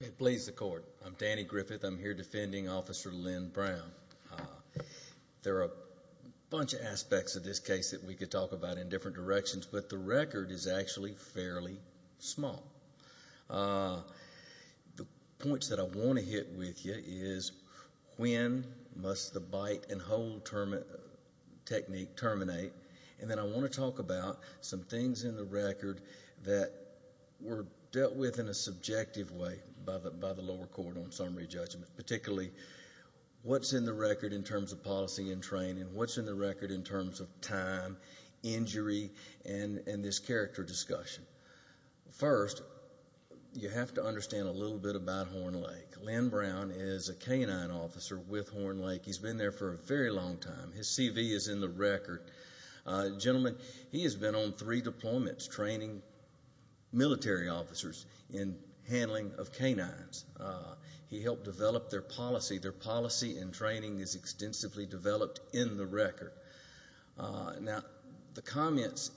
It pleases the court. I'm Danny Griffith. I'm here defending Officer Lynn Brown. There are a bunch of aspects of this case that we could talk about in different directions, but the record is actually fairly small. The points that I want to hit with you is when must the bite and hold technique terminate, and then I want to talk about some things in the record that were dealt with in a subjective way by the lower court on summary judgment, particularly what's in the record in terms of policy and training, what's in the record in terms of time, injury, and this character discussion. First, you have to understand a little bit about Horn Lake. Lynn Brown is a canine officer with Horn Lake. He's been there for a very long time. His CV is in the record. Gentlemen, he has been on three deployments training military officers in handling of canines. He helped develop their policy. Their policy and training is extensively developed in the record. Now, the comments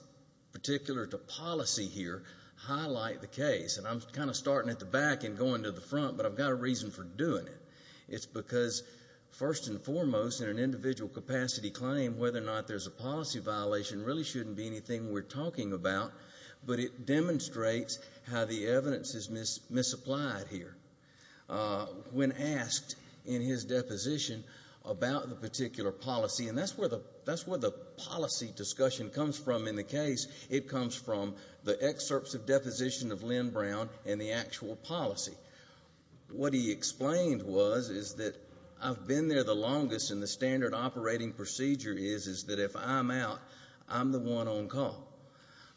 particular to policy here highlight the case, and I'm kind of starting at the back and going to the front, but I've got a reason for doing it. It's because, first and foremost, in an individual capacity claim, whether or not there's a policy violation really shouldn't be anything we're talking about, but it demonstrates how the evidence is misapplied here. When asked in his deposition about the particular policy, and that's where the policy discussion comes from in the case, it comes from the excerpts of deposition of Lynn Brown and the actual policy. What he explained was is that I've been there the longest, and the standard operating procedure is that if I'm out, I'm the one on call.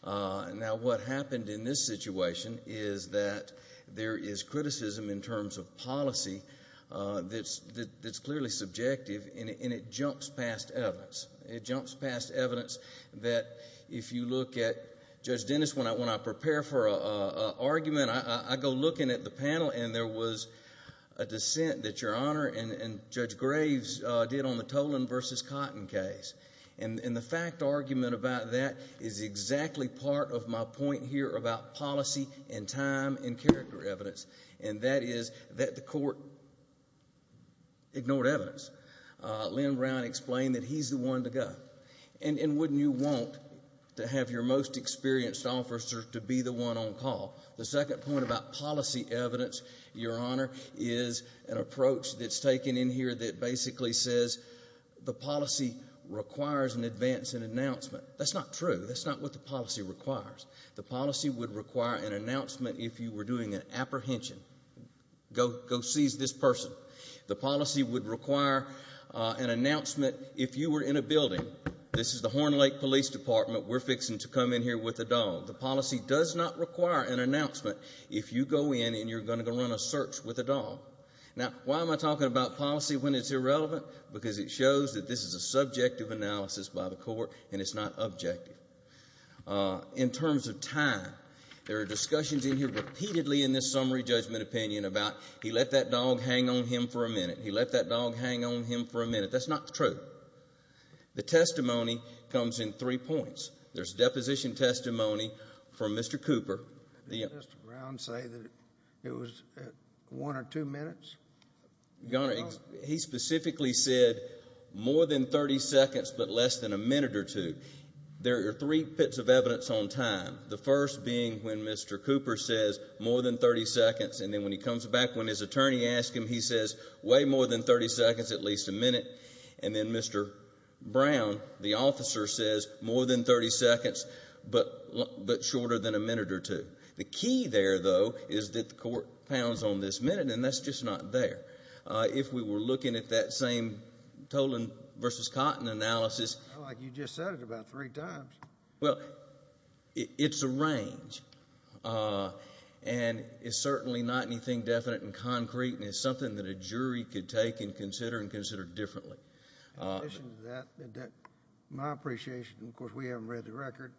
Now, what happened in this situation is that there is criticism in terms of policy that's clearly subjective, and it jumps past evidence. It jumps past evidence that if you look at Judge Dennis, when I prepare for an argument, I go looking at the panel, and there was a dissent that Your Honor and Judge Graves did on the Tolan v. Cotton case, and the fact argument about that is exactly part of my point here about policy and time and character evidence, and that is that the court ignored evidence. Lynn Brown explained that he's the one to go, and wouldn't you want to have your most experienced officer to be the one on call? The second point about policy evidence, Your Honor, is an approach that's taken in here that basically says the policy requires an advance and announcement. That's not true. That's not what the policy requires. The policy would require an announcement if you were doing an apprehension. Go seize this person. The policy would require an announcement if you were in a building. This is the Horn Lake Police Department. We're fixing to come in here with a dog. The policy does not require an announcement if you go in and you're going to go run a search with a dog. Now, why am I talking about policy when it's irrelevant? Because it shows that this is a subjective analysis by the court, and it's not objective. In terms of time, there are discussions in here repeatedly in this summary judgment opinion about, he let that dog hang on him for a minute, he let that dog hang on him for a minute. That's not true. The testimony comes in three points. There's deposition testimony from Mr. Cooper. Did Mr. Brown say that it was one or two minutes? He specifically said more than 30 seconds but less than a minute or two. There are three pits of evidence on time, the first being when Mr. Cooper says more than 30 seconds, and then when he comes back when his attorney asks him, he says way more than 30 seconds, at least a minute. And then Mr. Brown, the officer, says more than 30 seconds but shorter than a minute or two. The key there, though, is that the court pounds on this minute, and that's just not there. If we were looking at that same Tolan versus Cotton analysis. I feel like you just said it about three times. Well, it's a range, and it's certainly not anything definite and concrete, and it's something that a jury could take and consider and consider differently. In addition to that, my appreciation, of course, we haven't read the record,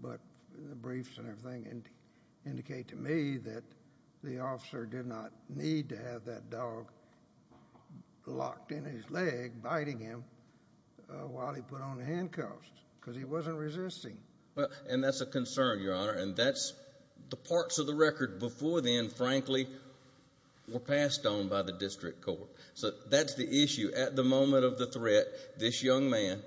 but the briefs and everything indicate to me that the officer did not need to have that dog locked in his leg, biting him while he put on the handcuffs because he wasn't resisting. And that's a concern, Your Honor, and that's the parts of the record before then, frankly, were passed on by the district court. So that's the issue. At the moment of the threat, this young man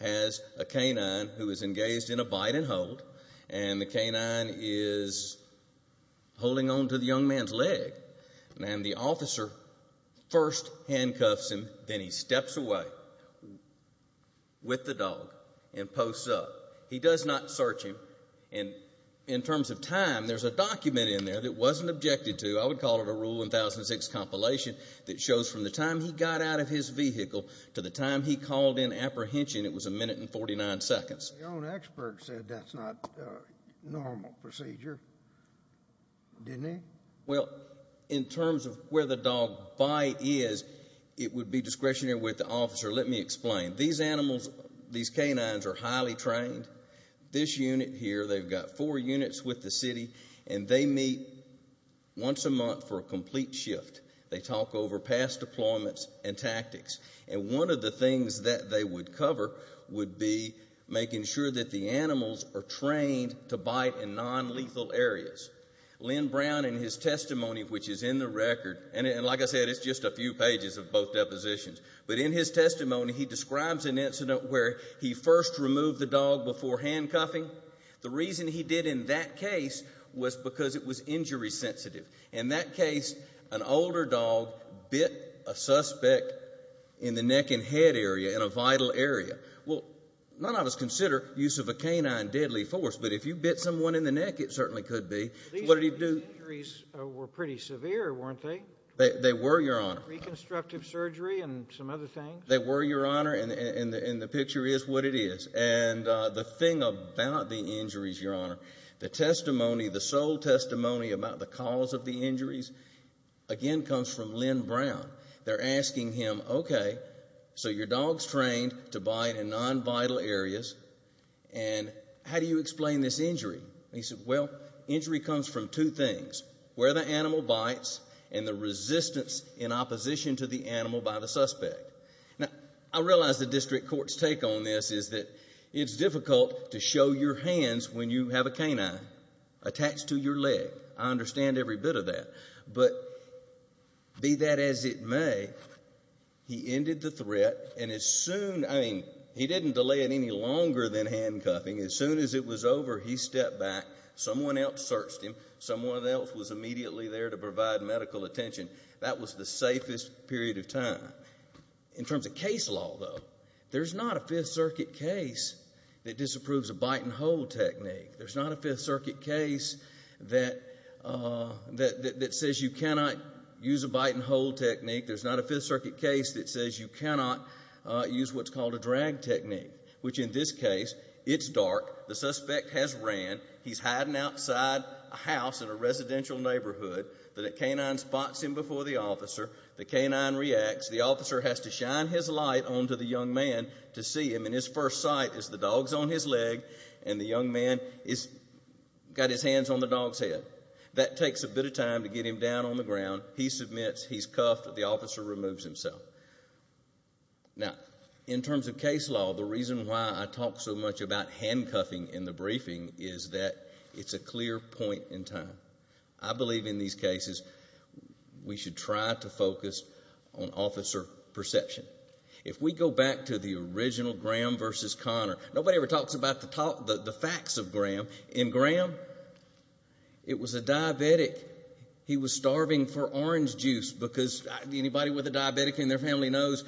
has a canine who is engaged in a bite and hold, and the canine is holding on to the young man's leg, and the officer first handcuffs him, then he steps away with the dog and posts up. He does not search him. And in terms of time, there's a document in there that wasn't objected to. I would call it a Rule 1006 compilation that shows from the time he got out of his vehicle to the time he called in apprehension, it was a minute and 49 seconds. Your own expert said that's not normal procedure, didn't he? Well, in terms of where the dog bite is, it would be discretionary with the officer. Let me explain. These animals, these canines are highly trained. This unit here, they've got four units with the city, and they meet once a month for a complete shift. They talk over past deployments and tactics. And one of the things that they would cover would be making sure that the animals are trained to bite in nonlethal areas. Len Brown, in his testimony, which is in the record, and like I said, it's just a few pages of both depositions, but in his testimony he describes an incident where he first removed the dog before handcuffing. The reason he did in that case was because it was injury sensitive. In that case, an older dog bit a suspect in the neck and head area, in a vital area. Well, none of us consider use of a canine deadly force, but if you bit someone in the neck, it certainly could be. These injuries were pretty severe, weren't they? They were, Your Honor. Reconstructive surgery and some other things? They were, Your Honor, and the picture is what it is. And the thing about the injuries, Your Honor, the testimony, the sole testimony about the cause of the injuries, again, comes from Len Brown. They're asking him, okay, so your dog's trained to bite in nonvital areas, and how do you explain this injury? He said, well, injury comes from two things, where the animal bites and the resistance in opposition to the animal by the suspect. Now, I realize the district court's take on this is that it's difficult to show your hands when you have a canine attached to your leg. I understand every bit of that. But be that as it may, he ended the threat, and as soon, I mean, he didn't delay it any longer than handcuffing. As soon as it was over, he stepped back. Someone else searched him. Someone else was immediately there to provide medical attention. That was the safest period of time. In terms of case law, though, there's not a Fifth Circuit case that disapproves a bite-and-hold technique. There's not a Fifth Circuit case that says you cannot use a bite-and-hold technique. There's not a Fifth Circuit case that says you cannot use what's called a drag technique, which in this case, it's dark. The suspect has ran. He's hiding outside a house in a residential neighborhood. The canine spots him before the officer. The canine reacts. The officer has to shine his light onto the young man to see him. And his first sight is the dog's on his leg, and the young man has got his hands on the dog's head. That takes a bit of time to get him down on the ground. He submits. He's cuffed. The officer removes himself. Now, in terms of case law, the reason why I talk so much about handcuffing in the briefing is that it's a clear point in time. I believe in these cases we should try to focus on officer perception. If we go back to the original Graham v. Connor, nobody ever talks about the facts of Graham. In Graham, it was a diabetic. He was starving for orange juice because anybody with a diabetic in their family knows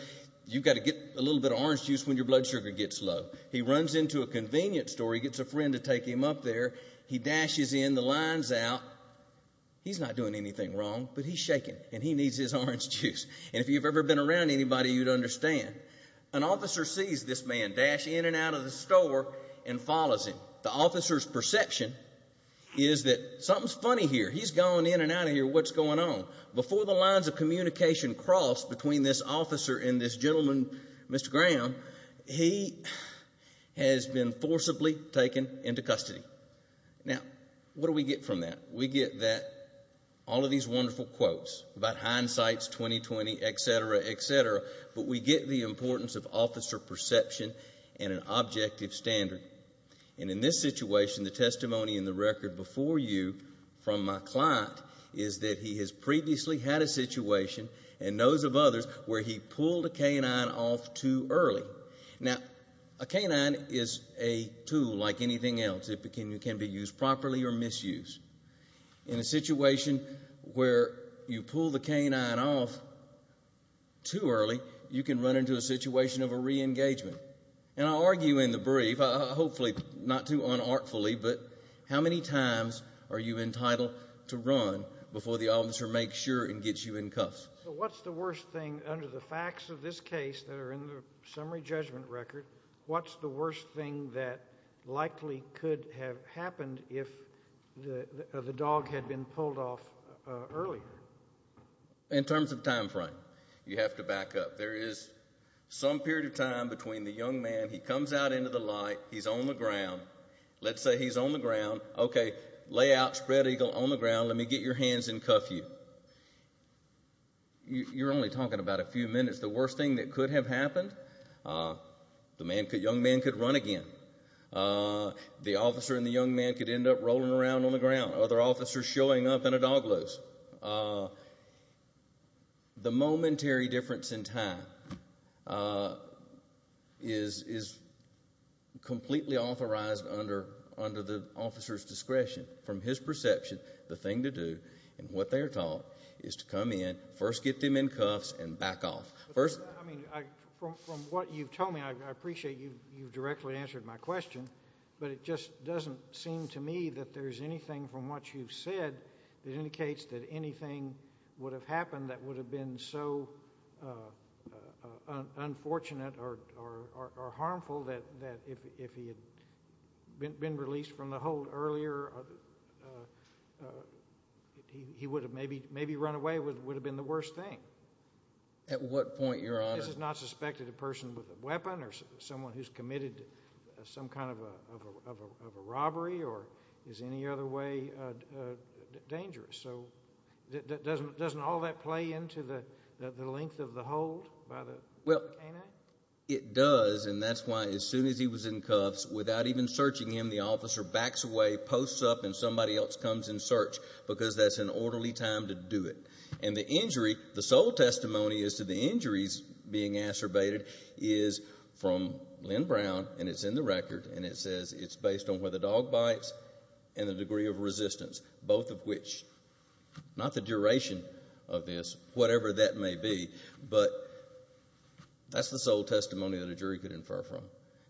you've got to get a little bit of orange juice when your blood sugar gets low. He runs into a convenience store. He gets a friend to take him up there. He dashes in. The line's out. He's not doing anything wrong, but he's shaking, and he needs his orange juice. And if you've ever been around anybody, you'd understand. An officer sees this man dash in and out of the store and follows him. The officer's perception is that something's funny here. He's gone in and out of here. What's going on? Before the lines of communication cross between this officer and this gentleman, Mr. Graham, he has been forcibly taken into custody. Now, what do we get from that? We get that, all of these wonderful quotes about hindsight, 2020, et cetera, et cetera, but we get the importance of officer perception and an objective standard. And in this situation, the testimony in the record before you from my client is that he has previously had a situation, and knows of others, where he pulled a canine off too early. Now, a canine is a tool like anything else. It can be used properly or misused. In a situation where you pull the canine off too early, you can run into a situation of a reengagement. And I'll argue in the brief, hopefully not too unartfully, but how many times are you entitled to run before the officer makes sure and gets you in cuffs? What's the worst thing under the facts of this case that are in the summary judgment record? What's the worst thing that likely could have happened if the dog had been pulled off earlier? In terms of time frame, you have to back up. There is some period of time between the young man, he comes out into the light, he's on the ground. Let's say he's on the ground. Let me get your hands and cuff you. You're only talking about a few minutes. The worst thing that could have happened, the young man could run again. The officer and the young man could end up rolling around on the ground, other officers showing up in a dog loose. The momentary difference in time is completely authorized under the officer's discretion. From his perception, the thing to do and what they are taught is to come in, first get them in cuffs, and back off. From what you've told me, I appreciate you've directly answered my question, but it just doesn't seem to me that there's anything from what you've said that indicates that anything would have happened that would have been so unfortunate or harmful that if he had been released from the hold earlier, he would have maybe run away would have been the worst thing. At what point, Your Honor? This has not suspected a person with a weapon or someone who's committed some kind of a robbery or is any other way dangerous. Doesn't all that play into the length of the hold? Well, it does, and that's why as soon as he was in cuffs, without even searching him, the officer backs away, posts up, and somebody else comes in search because that's an orderly time to do it. And the injury, the sole testimony as to the injuries being acerbated is from Lynn Brown, and it's in the record, and it says it's based on whether the dog bites and the degree of resistance, both of which, not the duration of this, whatever that may be, but that's the sole testimony that a jury could infer from.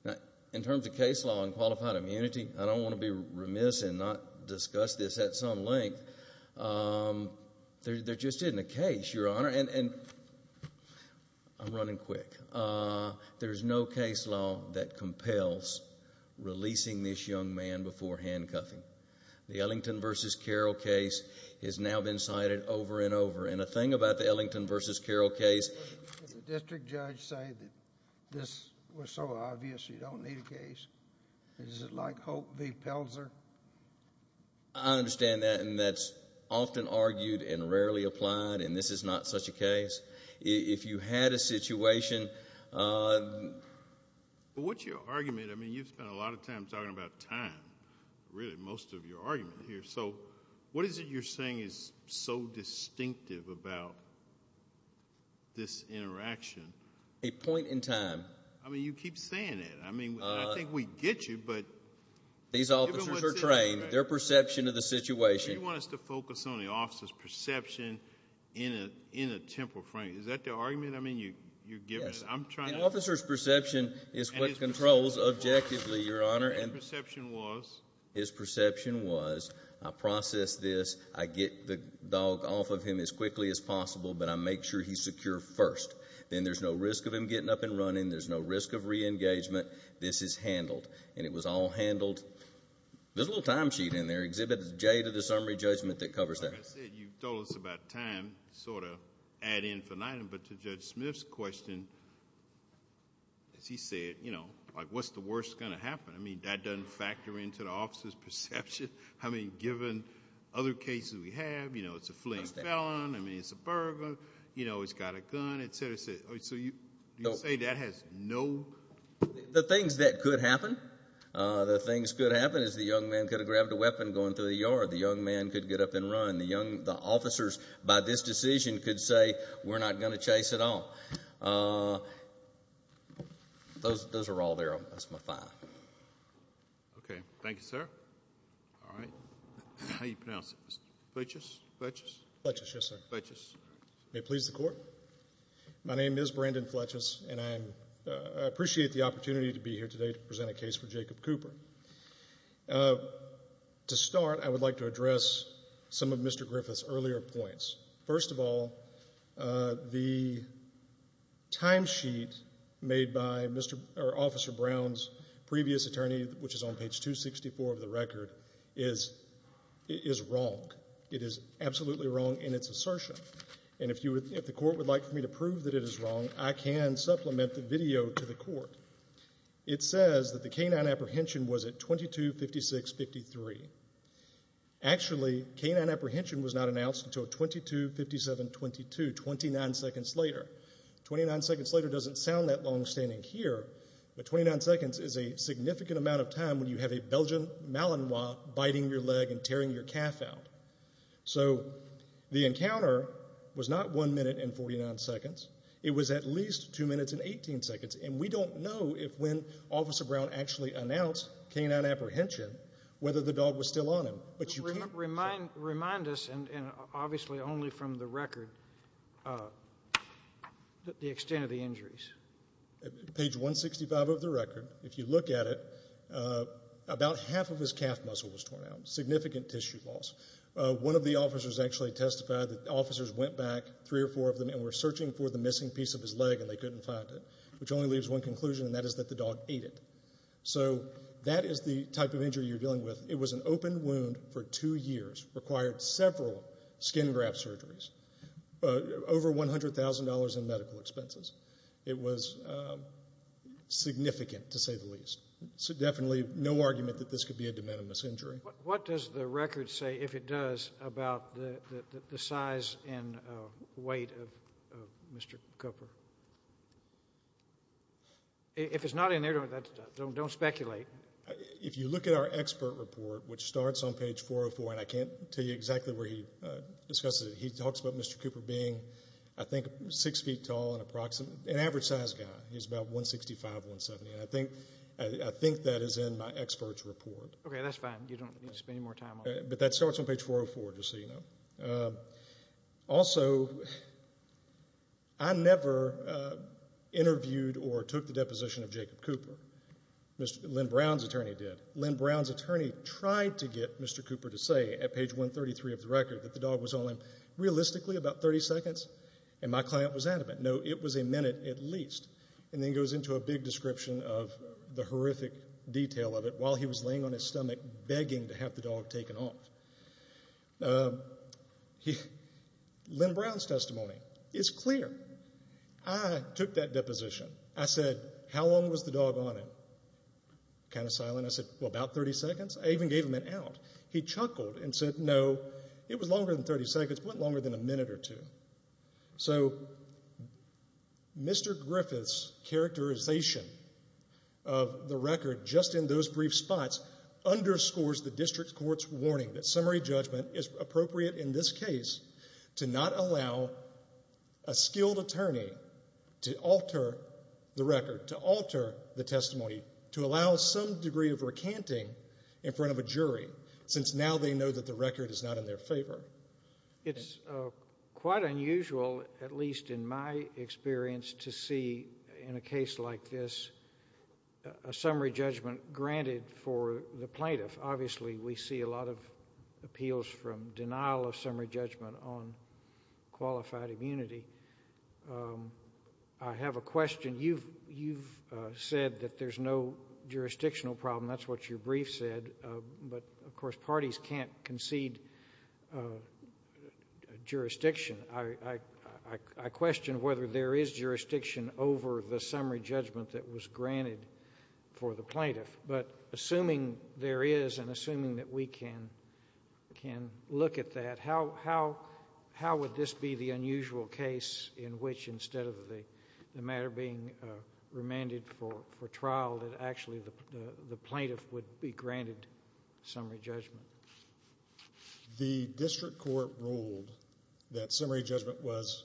Now, in terms of case law and qualified immunity, I don't want to be remiss and not discuss this at some length. There just isn't a case, Your Honor, and I'm running quick. There's no case law that compels releasing this young man before handcuffing. The Ellington v. Carroll case has now been cited over and over, and the thing about the Ellington v. Carroll case The district judge said that this was so obvious you don't need a case. Is it like Hope v. Pelzer? I understand that, and that's often argued and rarely applied, and this is not such a case. If you had a situation But what's your argument? I mean, you've spent a lot of time talking about time, really, most of your argument here, so what is it you're saying is so distinctive about this interaction? A point in time. I mean, you keep saying it. I mean, I think we get you, but These officers are trained. Their perception of the situation But you want us to focus on the officer's perception in a temporal frame. Is that the argument you're giving? An officer's perception is what controls objectively, Your Honor. And his perception was? His perception was, I process this, I get the dog off of him as quickly as possible, but I make sure he's secure first. Then there's no risk of him getting up and running. There's no risk of reengagement. This is handled, and it was all handled. There's a little time sheet in there. Exhibit J to the summary judgment that covers that. Like I said, you told us about time, sort of ad infinitum, but to Judge Smith's question, as he said, you know, like what's the worst going to happen? I mean, that doesn't factor into the officer's perception. I mean, given other cases we have, you know, it's a fleeing felon. I mean, it's a burglar. You know, he's got a gun, et cetera, et cetera. So you say that has no The things that could happen, the things that could happen is the young man could have grabbed a weapon going through the yard. The young man could get up and run. The officers, by this decision, could say, we're not going to chase at all. Those are all there. That's my five. Okay. Thank you, sir. All right. How do you pronounce it? Fletchess? Fletchess? Fletchess, yes, sir. Fletchess. May it please the Court. My name is Brandon Fletchess, and I appreciate the opportunity to be here today to present a case for Jacob Cooper. To start, I would like to address some of Mr. Griffith's earlier points. First of all, the timesheet made by Officer Brown's previous attorney, which is on page 264 of the record, is wrong. It is absolutely wrong in its assertion. And if the Court would like for me to prove that it is wrong, I can supplement the video to the Court. It says that the K-9 apprehension was at 22-56-53. Actually, K-9 apprehension was not announced until 22-57-22, 29 seconds later. Twenty-nine seconds later doesn't sound that long standing here, but 29 seconds is a significant amount of time when you have a Belgian Malinois biting your leg and tearing your calf out. So the encounter was not 1 minute and 49 seconds. It was at least 2 minutes and 18 seconds. And we don't know if when Officer Brown actually announced K-9 apprehension, whether the dog was still on him. Remind us, and obviously only from the record, the extent of the injuries. Page 165 of the record, if you look at it, about half of his calf muscle was torn out, significant tissue loss. One of the officers actually testified that the officers went back, three or four of them, and were searching for the missing piece of his leg, and they couldn't find it, which only leaves one conclusion, and that is that the dog ate it. So that is the type of injury you're dealing with. It was an open wound for two years, required several skin graft surgeries, over $100,000 in medical expenses. It was significant, to say the least. So definitely no argument that this could be a de minimis injury. What does the record say, if it does, about the size and weight of Mr. Cooper? If it's not in there, don't speculate. If you look at our expert report, which starts on page 404, and I can't tell you exactly where he discusses it, he talks about Mr. Cooper being, I think, 6 feet tall and an average-sized guy. He's about 165, 170, and I think that is in my expert's report. Okay, that's fine. You don't need to spend any more time on it. But that starts on page 404, just so you know. Also, I never interviewed or took the deposition of Jacob Cooper. Lynn Brown's attorney did. Lynn Brown's attorney tried to get Mr. Cooper to say, at page 133 of the record, that the dog was on him realistically about 30 seconds, and my client was adamant. No, it was a minute at least. And then he goes into a big description of the horrific detail of it while he was laying on his stomach begging to have the dog taken off. Lynn Brown's testimony is clear. I took that deposition. I said, how long was the dog on him? Kind of silent. I said, well, about 30 seconds. I even gave him an out. He chuckled and said, no, it was longer than 30 seconds, but longer than a minute or two. So Mr. Griffith's characterization of the record just in those brief spots underscores the district court's warning that summary judgment is appropriate in this case to not allow a skilled attorney to alter the record, to alter the testimony, to allow some degree of recanting in front of a jury, since now they know that the record is not in their favor. It's quite unusual, at least in my experience, to see in a case like this a summary judgment granted for the plaintiff. Obviously we see a lot of appeals from denial of summary judgment on qualified immunity. I have a question. You've said that there's no jurisdictional problem. That's what your brief said. But, of course, parties can't concede jurisdiction. I question whether there is jurisdiction over the summary judgment that was granted for the plaintiff. But assuming there is and assuming that we can look at that, how would this be the unusual case in which instead of the matter being remanded for trial, that actually the plaintiff would be granted summary judgment? The district court ruled that summary judgment was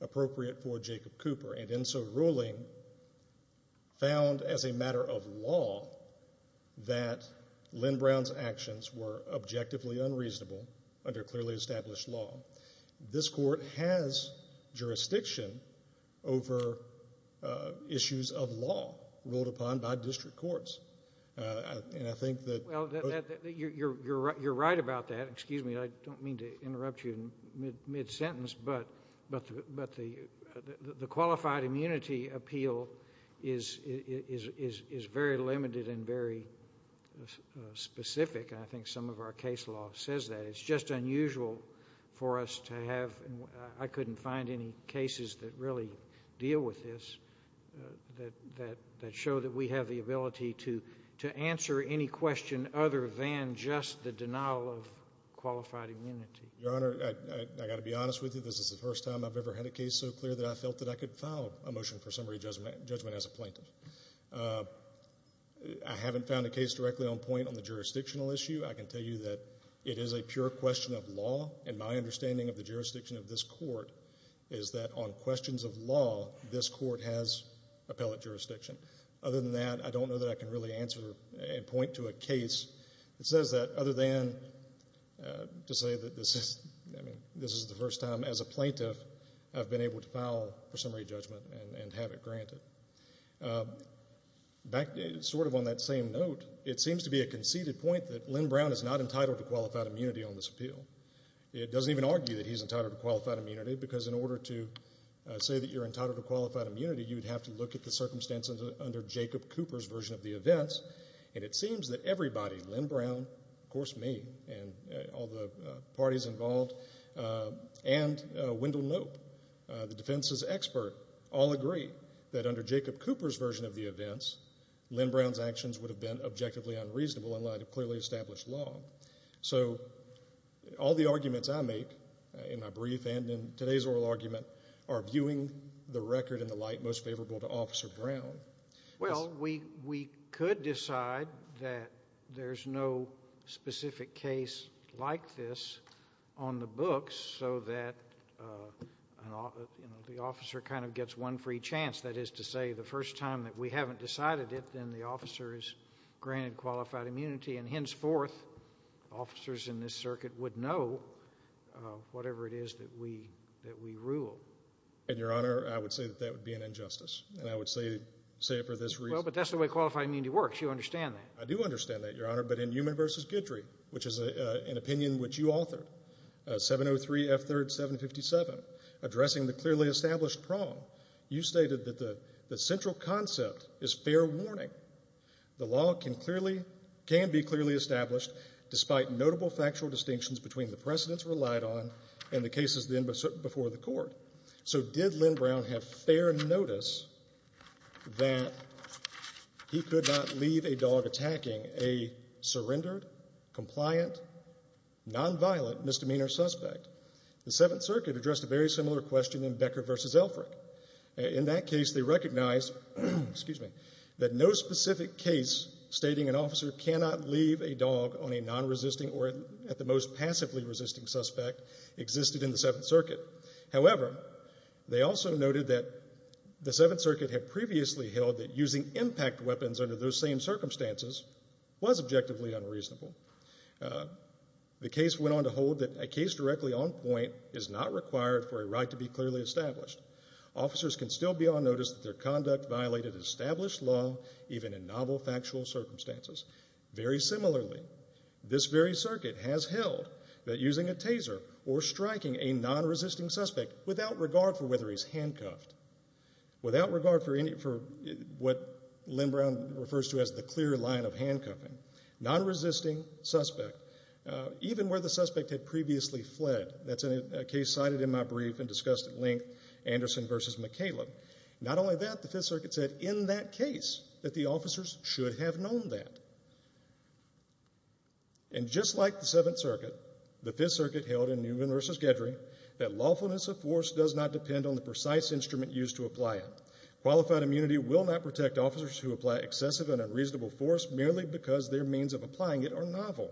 appropriate for Jacob Cooper, and in so ruling found as a matter of law that Lynn Brown's actions were objectively unreasonable under clearly established law. This court has jurisdiction over issues of law ruled upon by district courts. And I think that both of those... Well, you're right about that. Excuse me, I don't mean to interrupt you mid-sentence, but the qualified immunity appeal is very limited and very specific, and I think some of our case law says that. It's just unusual for us to have. I couldn't find any cases that really deal with this that show that we have the ability to answer any question other than just the denial of qualified immunity. Your Honor, I've got to be honest with you. This is the first time I've ever had a case so clear that I felt that I could file a motion for summary judgment as a plaintiff. I haven't found a case directly on point on the jurisdictional issue. I can tell you that it is a pure question of law, and my understanding of the jurisdiction of this court is that on questions of law, this court has appellate jurisdiction. Other than that, I don't know that I can really answer and point to a case that says that, other than to say that this is the first time as a plaintiff I've been able to file for summary judgment and have it granted. Sort of on that same note, it seems to be a conceded point that Len Brown is not entitled to qualified immunity on this appeal. It doesn't even argue that he's entitled to qualified immunity, because in order to say that you're entitled to qualified immunity, you would have to look at the circumstances under Jacob Cooper's version of the events, and it seems that everybody, Len Brown, of course me, and all the parties involved, and Wendell Knope, the defense's expert, all agree that under Jacob Cooper's version of the events, Len Brown's actions would have been objectively unreasonable in light of clearly established law. So all the arguments I make in my brief and in today's oral argument are viewing the record in the light most favorable to Officer Brown. Well, we could decide that there's no specific case like this on the books so that the officer kind of gets one free chance. That is to say, the first time that we haven't decided it, then the officer is granted qualified immunity, and henceforth officers in this circuit would know whatever it is that we rule. And, Your Honor, I would say that that would be an injustice, and I would say it for this reason. Well, but that's the way qualified immunity works. You understand that. I do understand that, Your Honor, but in Newman v. Guidry, which is an opinion which you authored, 703 F. 3rd 757, addressing the clearly established prong, you stated that the central concept is fair warning. The law can be clearly established despite notable factual distinctions between the precedents relied on and the cases before the court. So did Lynn Brown have fair notice that he could not leave a dog attacking a surrendered, compliant, nonviolent misdemeanor suspect? The Seventh Circuit addressed a very similar question in Becker v. Elfrick. In that case, they recognized that no specific case stating an officer cannot leave a dog on a nonresisting or at the most passively resisting suspect existed in the Seventh Circuit. However, they also noted that the Seventh Circuit had previously held that using impact weapons under those same circumstances was objectively unreasonable. The case went on to hold that a case directly on point is not required for a right to be clearly established. Officers can still be on notice that their conduct violated established law, even in novel factual circumstances. Very similarly, this very circuit has held that using a taser or striking a nonresisting suspect without regard for whether he's handcuffed, without regard for what Lynn Brown refers to as the clear line of handcuffing, nonresisting suspect, even where the suspect had previously fled. That's a case cited in my brief and discussed at length, Anderson v. McCaleb. Not only that, the Fifth Circuit said in that case that the officers should have known that. And just like the Seventh Circuit, the Fifth Circuit held in Newman v. Gedry that lawfulness of force does not depend on the precise instrument used to apply it. Qualified immunity will not protect officers who apply excessive and unreasonable force merely because their means of applying it are novel.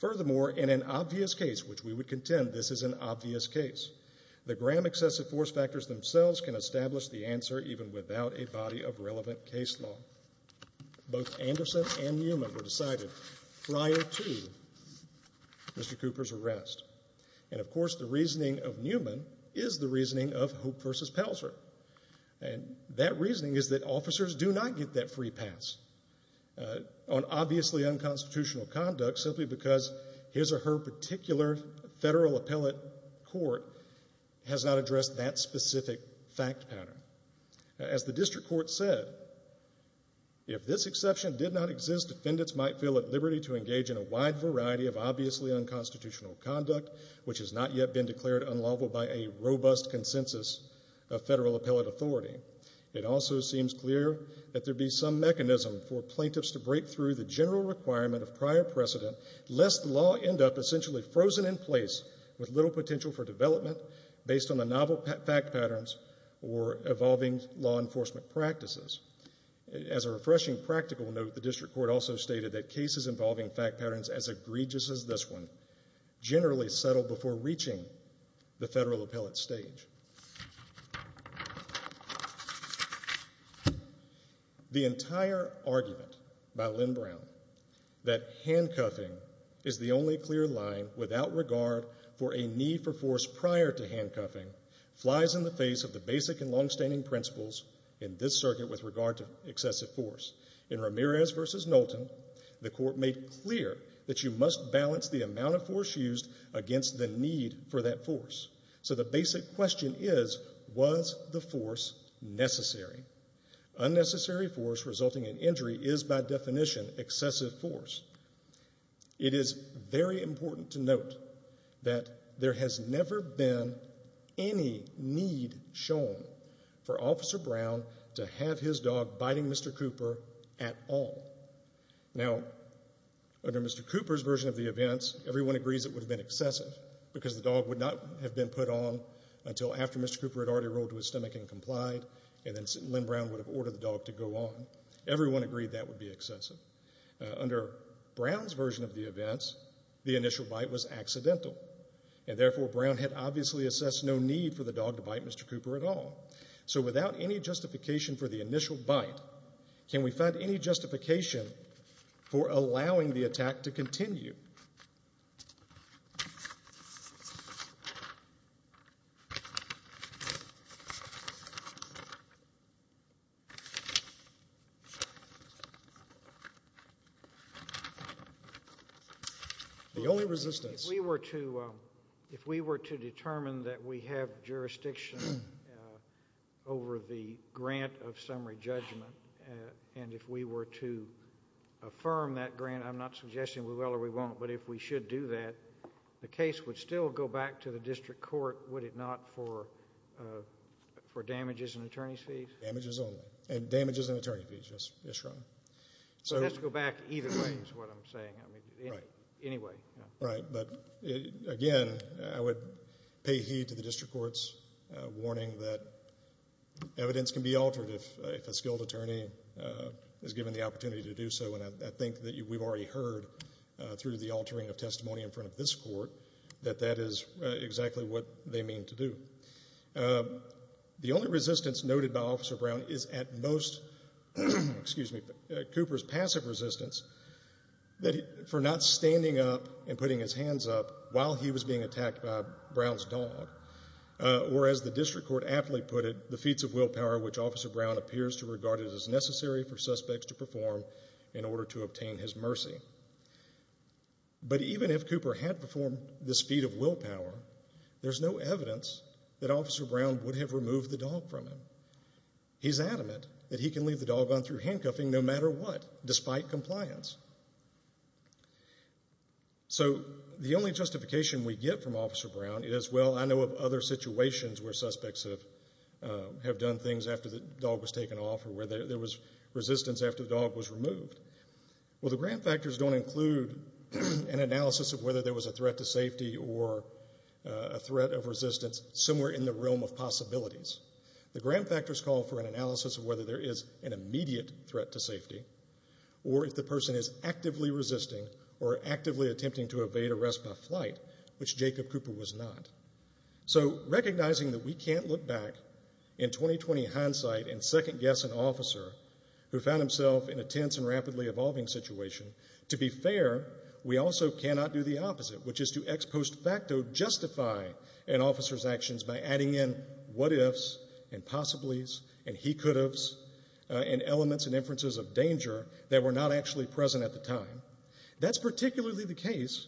Furthermore, in an obvious case, which we would contend this is an obvious case, the Graham excessive force factors themselves can establish the answer even without a body of relevant case law. Both Anderson and Newman were decided prior to Mr. Cooper's arrest. And, of course, the reasoning of Newman is the reasoning of Hope v. Pelzer. And that reasoning is that officers do not get that free pass on obviously unconstitutional conduct simply because his or her particular federal appellate court has not addressed that specific fact pattern. As the district court said, if this exception did not exist, defendants might feel at liberty to engage in a wide variety of obviously unconstitutional conduct which has not yet been declared unlawful by a robust consensus of federal appellate authority. It also seems clear that there'd be some mechanism for plaintiffs to break through the general requirement of prior precedent lest the law end up essentially frozen in place with little potential for development based on the novel fact patterns or evolving law enforcement practices. As a refreshing practical note, the district court also stated that cases involving fact patterns as egregious as this one generally settle before reaching the federal appellate stage. The entire argument by Lynn Brown that handcuffing is the only clear line without regard for a need for force prior to handcuffing flies in the face of the basic and longstanding principles in this circuit with regard to excessive force. In Ramirez v. Knowlton, the court made clear that you must balance the amount of force used against the need for that force. So the basic question is, was the force necessary? Unnecessary force resulting in injury is by definition excessive force. It is very important to note that there has never been any need shown for Officer Brown to have his dog biting Mr. Cooper at all. Now, under Mr. Cooper's version of the events, everyone agrees it would have been excessive because the dog would not have been put on until after Mr. Cooper had already rolled to his stomach and complied and then Lynn Brown would have ordered the dog to go on. Everyone agreed that would be excessive. Under Brown's version of the events, the initial bite was accidental and therefore Brown had obviously assessed no need for the dog to bite Mr. Cooper at all. So without any justification for the initial bite, can we find any justification for allowing the attack to continue? The only resistance. If we were to determine that we have jurisdiction over the grant of summary judgment and if we were to affirm that grant, I'm not suggesting we will or we won't, but if we should do that, the case would still go back to the district court, would it not, for damages and attorney's fees? Damages only. And damages and attorney's fees, yes, Your Honor. So let's go back either way is what I'm saying. Right. Anyway. Right. But again, I would pay heed to the district court's warning that evidence can be altered if a skilled attorney is given the opportunity to do so, and I think that we've already heard through the altering of testimony in front of this court that that is exactly what they mean to do. The only resistance noted by Officer Brown is at most Cooper's passive resistance for not standing up and putting his hands up while he was being attacked by Brown's dog, or as the district court aptly put it, the feats of willpower, which Officer Brown appears to regard as necessary for suspects to perform in order to obtain his mercy. But even if Cooper had performed this feat of willpower, there's no evidence that Officer Brown would have removed the dog from him. He's adamant that he can leave the dog on through handcuffing no matter what, despite compliance. So the only justification we get from Officer Brown is, well, I know of other situations where suspects have done things after the dog was taken off or where there was resistance after the dog was removed. Well, the grant factors don't include an analysis of whether there was a threat to safety or a threat of resistance somewhere in the realm of possibilities. The grant factors call for an analysis of whether there is an immediate threat to safety or if the person is actively resisting or actively attempting to evade arrest by flight, which Jacob Cooper was not. So recognizing that we can't look back in 2020 hindsight and second-guess an officer who found himself in a tense and rapidly evolving situation, to be fair, we also cannot do the opposite, which is to ex post facto justify an officer's actions by adding in what-ifs and possibilities and he-could-haves and elements and inferences of danger that were not actually present at the time. That's particularly the case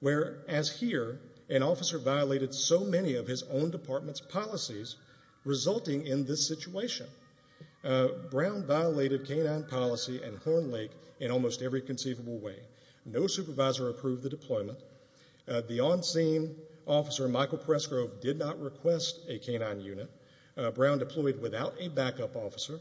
where, as here, an officer violated so many of his own department's policies, resulting in this situation. Brown violated K-9 policy and Horn Lake in almost every conceivable way. No supervisor approved the deployment. The on-scene officer, Michael Pressgrove, did not request a K-9 unit. Brown deployed without a backup officer,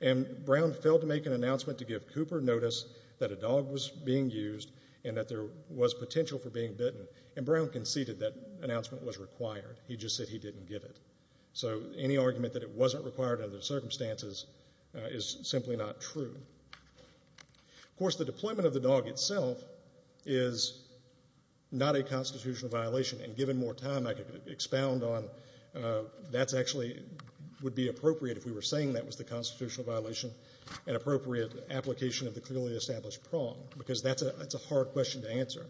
and Brown failed to make an announcement to give Cooper notice that a dog was being used and that there was potential for being bitten, and Brown conceded that announcement was required. He just said he didn't give it. So any argument that it wasn't required under the circumstances is simply not true. Of course, the deployment of the dog itself is not a constitutional violation, and given more time, I could expound on that actually would be appropriate if we were saying that was the constitutional violation and appropriate application of the clearly established prong, because that's a hard question to answer.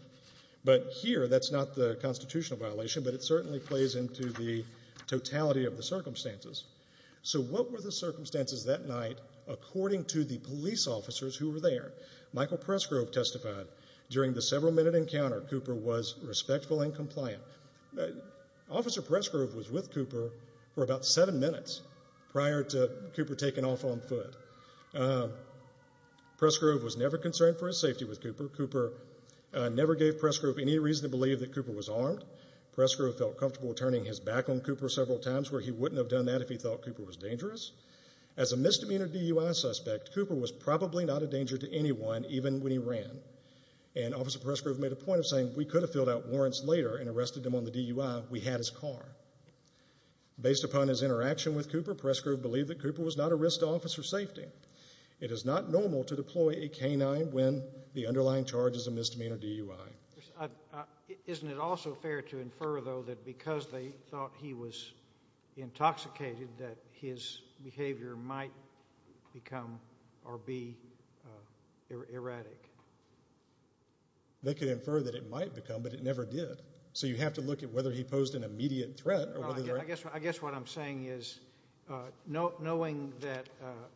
But here, that's not the constitutional violation, but it certainly plays into the totality of the circumstances. So what were the circumstances that night according to the police officers who were there? Michael Pressgrove testified. During the several-minute encounter, Cooper was respectful and compliant. Officer Pressgrove was with Cooper for about seven minutes prior to Cooper taking off on foot. Pressgrove was never concerned for his safety with Cooper. Cooper never gave Pressgrove any reason to believe that Cooper was armed. Pressgrove felt comfortable turning his back on Cooper several times, where he wouldn't have done that if he thought Cooper was dangerous. As a misdemeanor DUI suspect, Cooper was probably not a danger to anyone even when he ran, and Officer Pressgrove made a point of saying we could have filled out warrants later and arrested him on the DUI if we had his car. Based upon his interaction with Cooper, Pressgrove believed that Cooper was not a risk to officer safety. It is not normal to deploy a canine when the underlying charge is a misdemeanor DUI. Isn't it also fair to infer, though, that because they thought he was intoxicated, that his behavior might become or be erratic? They could infer that it might become, but it never did. So you have to look at whether he posed an immediate threat. I guess what I'm saying is knowing that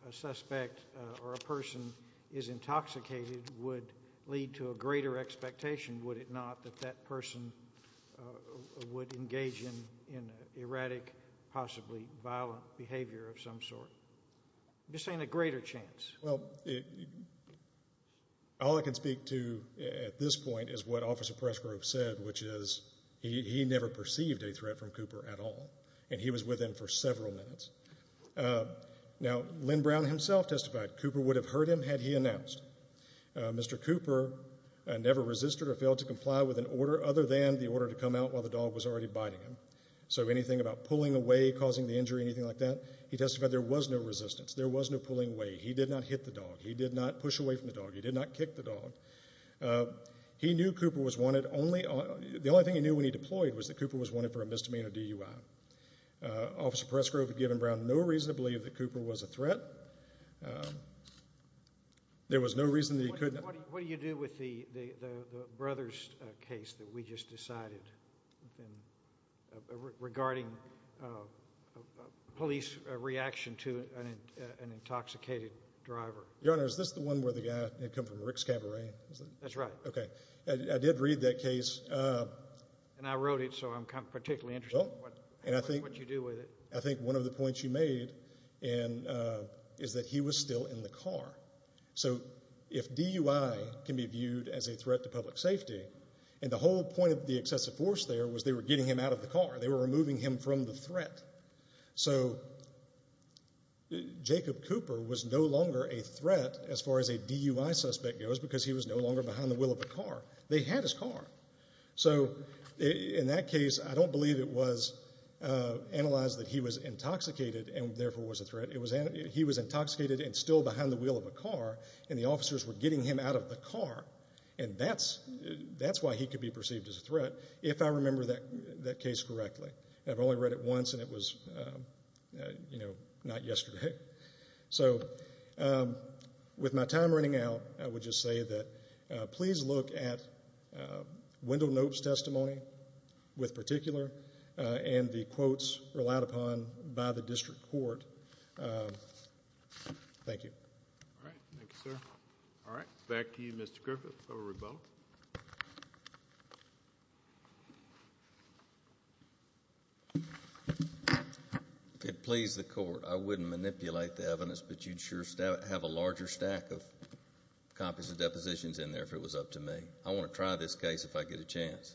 a suspect or a person is intoxicated would lead to a greater expectation, would it not, that that person would engage in erratic, possibly violent behavior of some sort. I'm just saying a greater chance. Well, all I can speak to at this point is what Officer Pressgrove said, which is he never perceived a threat from Cooper at all, and he was with him for several minutes. Now, Lynn Brown himself testified Cooper would have hurt him had he announced. Mr. Cooper never resisted or failed to comply with an order other than the order to come out while the dog was already biting him. So anything about pulling away, causing the injury, anything like that, he testified there was no resistance. There was no pulling away. He did not hit the dog. He did not push away from the dog. He did not kick the dog. He knew Cooper was wanted. The only thing he knew when he deployed was that Cooper was wanted for a misdemeanor DUI. Officer Pressgrove had given Brown no reason to believe that Cooper was a threat. There was no reason that he could not. What do you do with the Brothers case that we just decided regarding police reaction to an intoxicated driver? Your Honor, is this the one where the guy had come from Rick's Cabaret? That's right. Okay. I did read that case. And I wrote it, so I'm particularly interested in what you do with it. I think one of the points you made is that he was still in the car. So if DUI can be viewed as a threat to public safety, and the whole point of the excessive force there was they were getting him out of the car. They were removing him from the threat. So Jacob Cooper was no longer a threat as far as a DUI suspect goes because he was no longer behind the wheel of a car. They had his car. So in that case, I don't believe it was analyzed that he was intoxicated and therefore was a threat. He was intoxicated and still behind the wheel of a car, and the officers were getting him out of the car. And that's why he could be perceived as a threat if I remember that case correctly. I've only read it once, and it was not yesterday. Okay. So with my time running out, I would just say that please look at Wendell Knope's testimony with particular and the quotes relied upon by the district court. Thank you. All right. Thank you, sir. All right. Back to you, Mr. Griffith. Governor Rubel. If it pleased the court, I wouldn't manipulate the evidence, but you'd sure have a larger stack of copies of depositions in there if it was up to me. I want to try this case if I get a chance.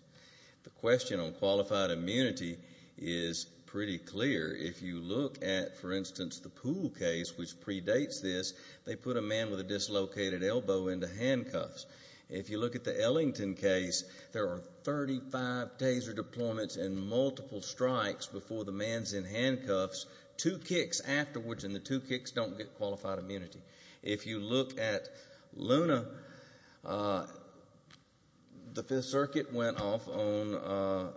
The question on qualified immunity is pretty clear. If you look at, for instance, the Poole case, which predates this, they put a man with a dislocated elbow into handcuffs. If you look at the Ellington case, there are 35 taser deployments and multiple strikes before the man's in handcuffs, two kicks afterwards and the two kicks don't get qualified immunity. If you look at Luna, the Fifth Circuit went off on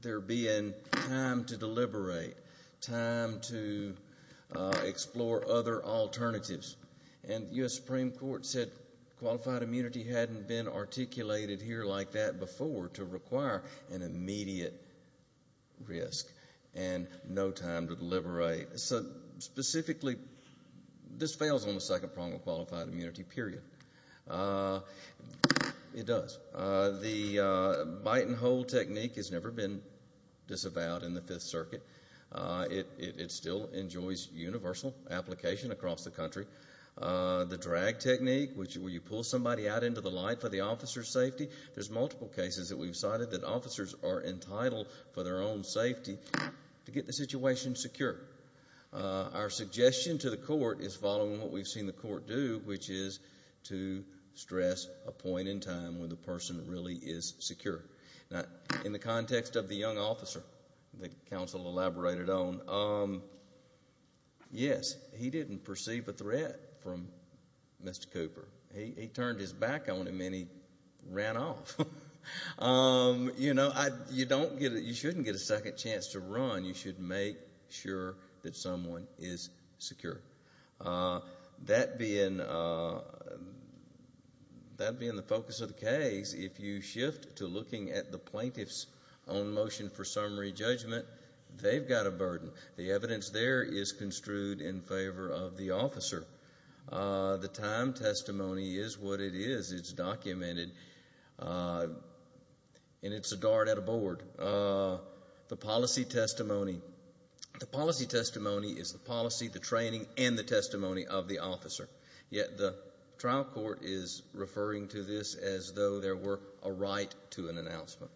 there being time to deliberate, time to explore other alternatives, and the U.S. Supreme Court said qualified immunity hadn't been articulated here like that before to require an immediate risk and no time to deliberate. Specifically, this fails on the second prong of qualified immunity, period. It does. The bite and hold technique has never been disavowed in the Fifth Circuit. It still enjoys universal application across the country. The drag technique, where you pull somebody out into the light for the officer's safety, there's multiple cases that we've cited that officers are entitled for their own safety to get the situation secure. Our suggestion to the court is following what we've seen the court do, which is to stress a point in time when the person really is secure. Now, in the context of the young officer that counsel elaborated on, yes, he didn't perceive a threat from Mr. Cooper. He turned his back on him and he ran off. You know, you shouldn't get a second chance to run. You should make sure that someone is secure. That being the focus of the case, if you shift to looking at the plaintiff's own motion for summary judgment, they've got a burden. The evidence there is construed in favor of the officer. The time testimony is what it is. It's documented, and it's a dart at a board. The policy testimony. The policy testimony is the policy, the training, and the testimony of the officer. Yet the trial court is referring to this as though there were a right to an announcement.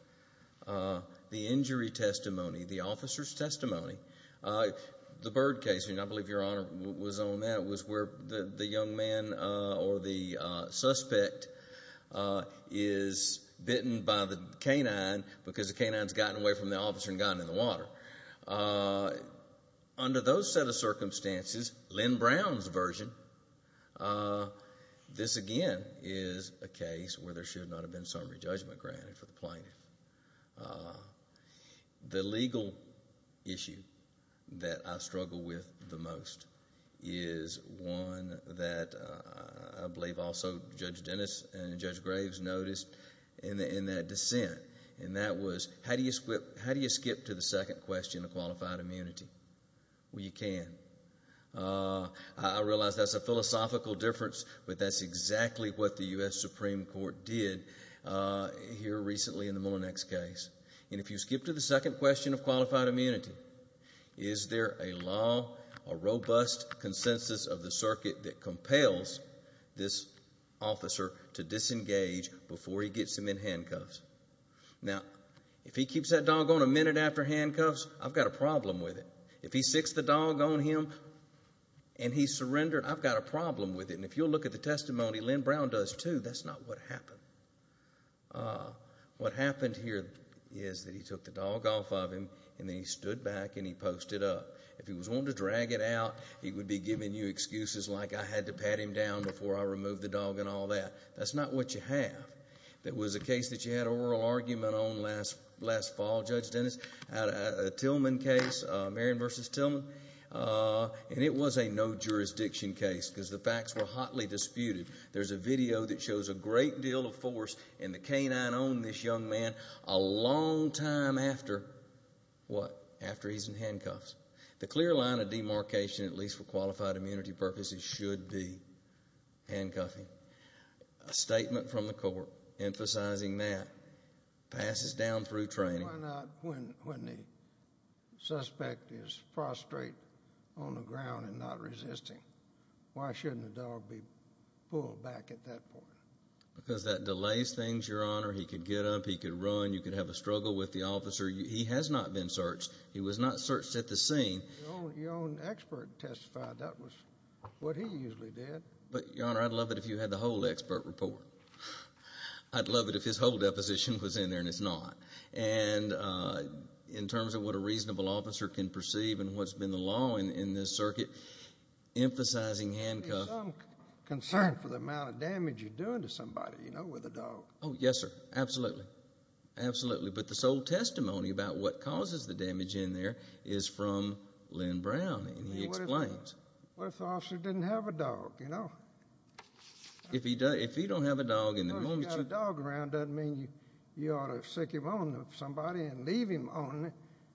The injury testimony, the officer's testimony. The Byrd case, and I believe Your Honor was on that, was where the young man or the suspect is bitten by the canine because the canine's gotten away from the officer and gotten in the water. Under those set of circumstances, Lynn Brown's version, this again is a case where there should not have been summary judgment granted for the plaintiff. The legal issue that I struggle with the most is one that I believe also Judge Dennis and Judge Graves noticed in that dissent, and that was how do you skip to the second question of qualified immunity? Well, you can. I realize that's a philosophical difference, but that's exactly what the U.S. Supreme Court did here recently in the Mullinex case. And if you skip to the second question of qualified immunity, is there a law, a robust consensus of the circuit that compels this officer to disengage before he gets him in handcuffs? Now, if he keeps that dog on a minute after handcuffs, I've got a problem with it. If he sticks the dog on him and he's surrendered, I've got a problem with it. And if you'll look at the testimony Lynn Brown does too, that's not what happened. What happened here is that he took the dog off of him and then he stood back and he posted up. If he was willing to drag it out, he would be giving you excuses like, I had to pat him down before I removed the dog and all that. That's not what you have. That was a case that you had an oral argument on last fall, Judge Dennis, a Tillman case, Marion v. Tillman, and it was a no-jurisdiction case because the facts were hotly disputed. There's a video that shows a great deal of force in the canine on this young man a long time after what? After he's in handcuffs. The clear line of demarcation, at least for qualified immunity purposes, should be handcuffing. A statement from the court emphasizing that passes down through training. Why not when the suspect is prostrate on the ground and not resisting? Why shouldn't the dog be pulled back at that point? Because that delays things, Your Honor. He could get up, he could run, you could have a struggle with the officer. He has not been searched. He was not searched at the scene. Your own expert testified. That was what he usually did. But, Your Honor, I'd love it if you had the whole expert report. I'd love it if his whole deposition was in there, and it's not. And in terms of what a reasonable officer can perceive and what's been the law in this circuit, emphasizing handcuffs. There's some concern for the amount of damage you're doing to somebody, you know, with a dog. Oh, yes, sir. Absolutely. Absolutely. But the sole testimony about what causes the damage in there is from Len Brown, and he explains. What if the officer didn't have a dog, you know? If he don't have a dog and the moment you... If he doesn't have a dog around, it doesn't mean you ought to stick him on somebody and leave him on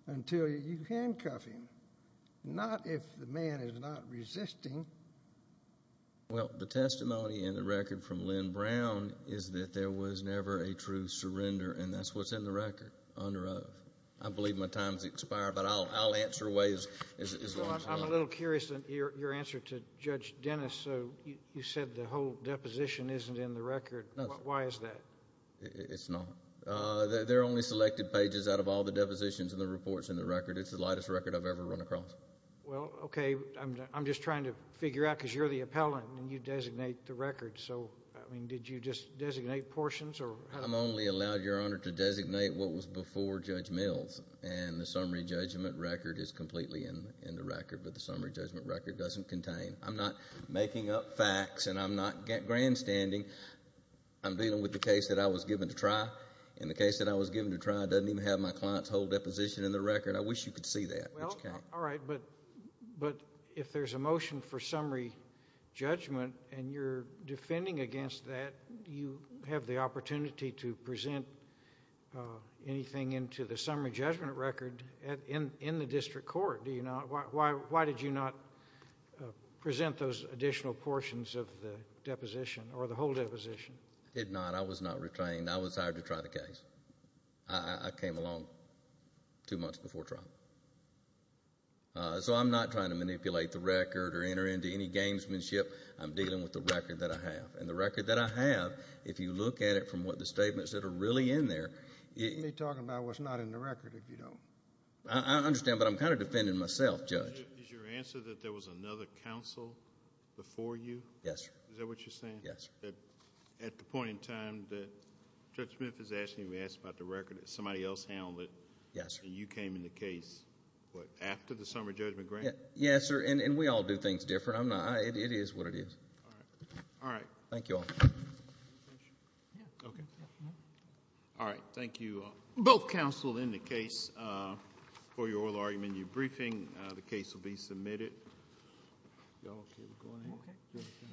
until you handcuff him. Not if the man is not resisting. Well, the testimony in the record from Len Brown is that there was never a true surrender, and that's what's in the record, under oath. I believe my time has expired, but I'll answer away as long as I can. I'm a little curious in your answer to Judge Dennis. You said the whole deposition isn't in the record. Why is that? It's not. They're only selected pages out of all the depositions and the reports in the record. It's the lightest record I've ever run across. Well, okay. I'm just trying to figure out, because you're the appellant and you designate the record. So, I mean, did you just designate portions or... doesn't contain. I'm not making up facts, and I'm not grandstanding. I'm dealing with the case that I was given to try, and the case that I was given to try doesn't even have my client's whole deposition in the record. I wish you could see that, but you can't. All right, but if there's a motion for summary judgment and you're defending against that, do you have the opportunity to present anything into the summary judgment record in the district court? Do you not? Why did you not present those additional portions of the deposition or the whole deposition? I did not. I was not retained. I was hired to try the case. I came along two months before trial. So I'm not trying to manipulate the record or enter into any gamesmanship. I'm dealing with the record that I have. And the record that I have, if you look at it from what the statements that are really in there... You're talking about what's not in the record if you don't. I understand, but I'm kind of defending myself, Judge. Is your answer that there was another counsel before you? Yes, sir. Is that what you're saying? Yes, sir. At the point in time that Judge Memphis asked me to ask about the record and somebody else handled it... Yes, sir. And you came in the case, what, after the summary judgment grant? Yes, sir, and we all do things different. It is what it is. All right. Thank you all. All right, thank you. Both counsel in the case for your oral argument and your briefing. The case will be submitted.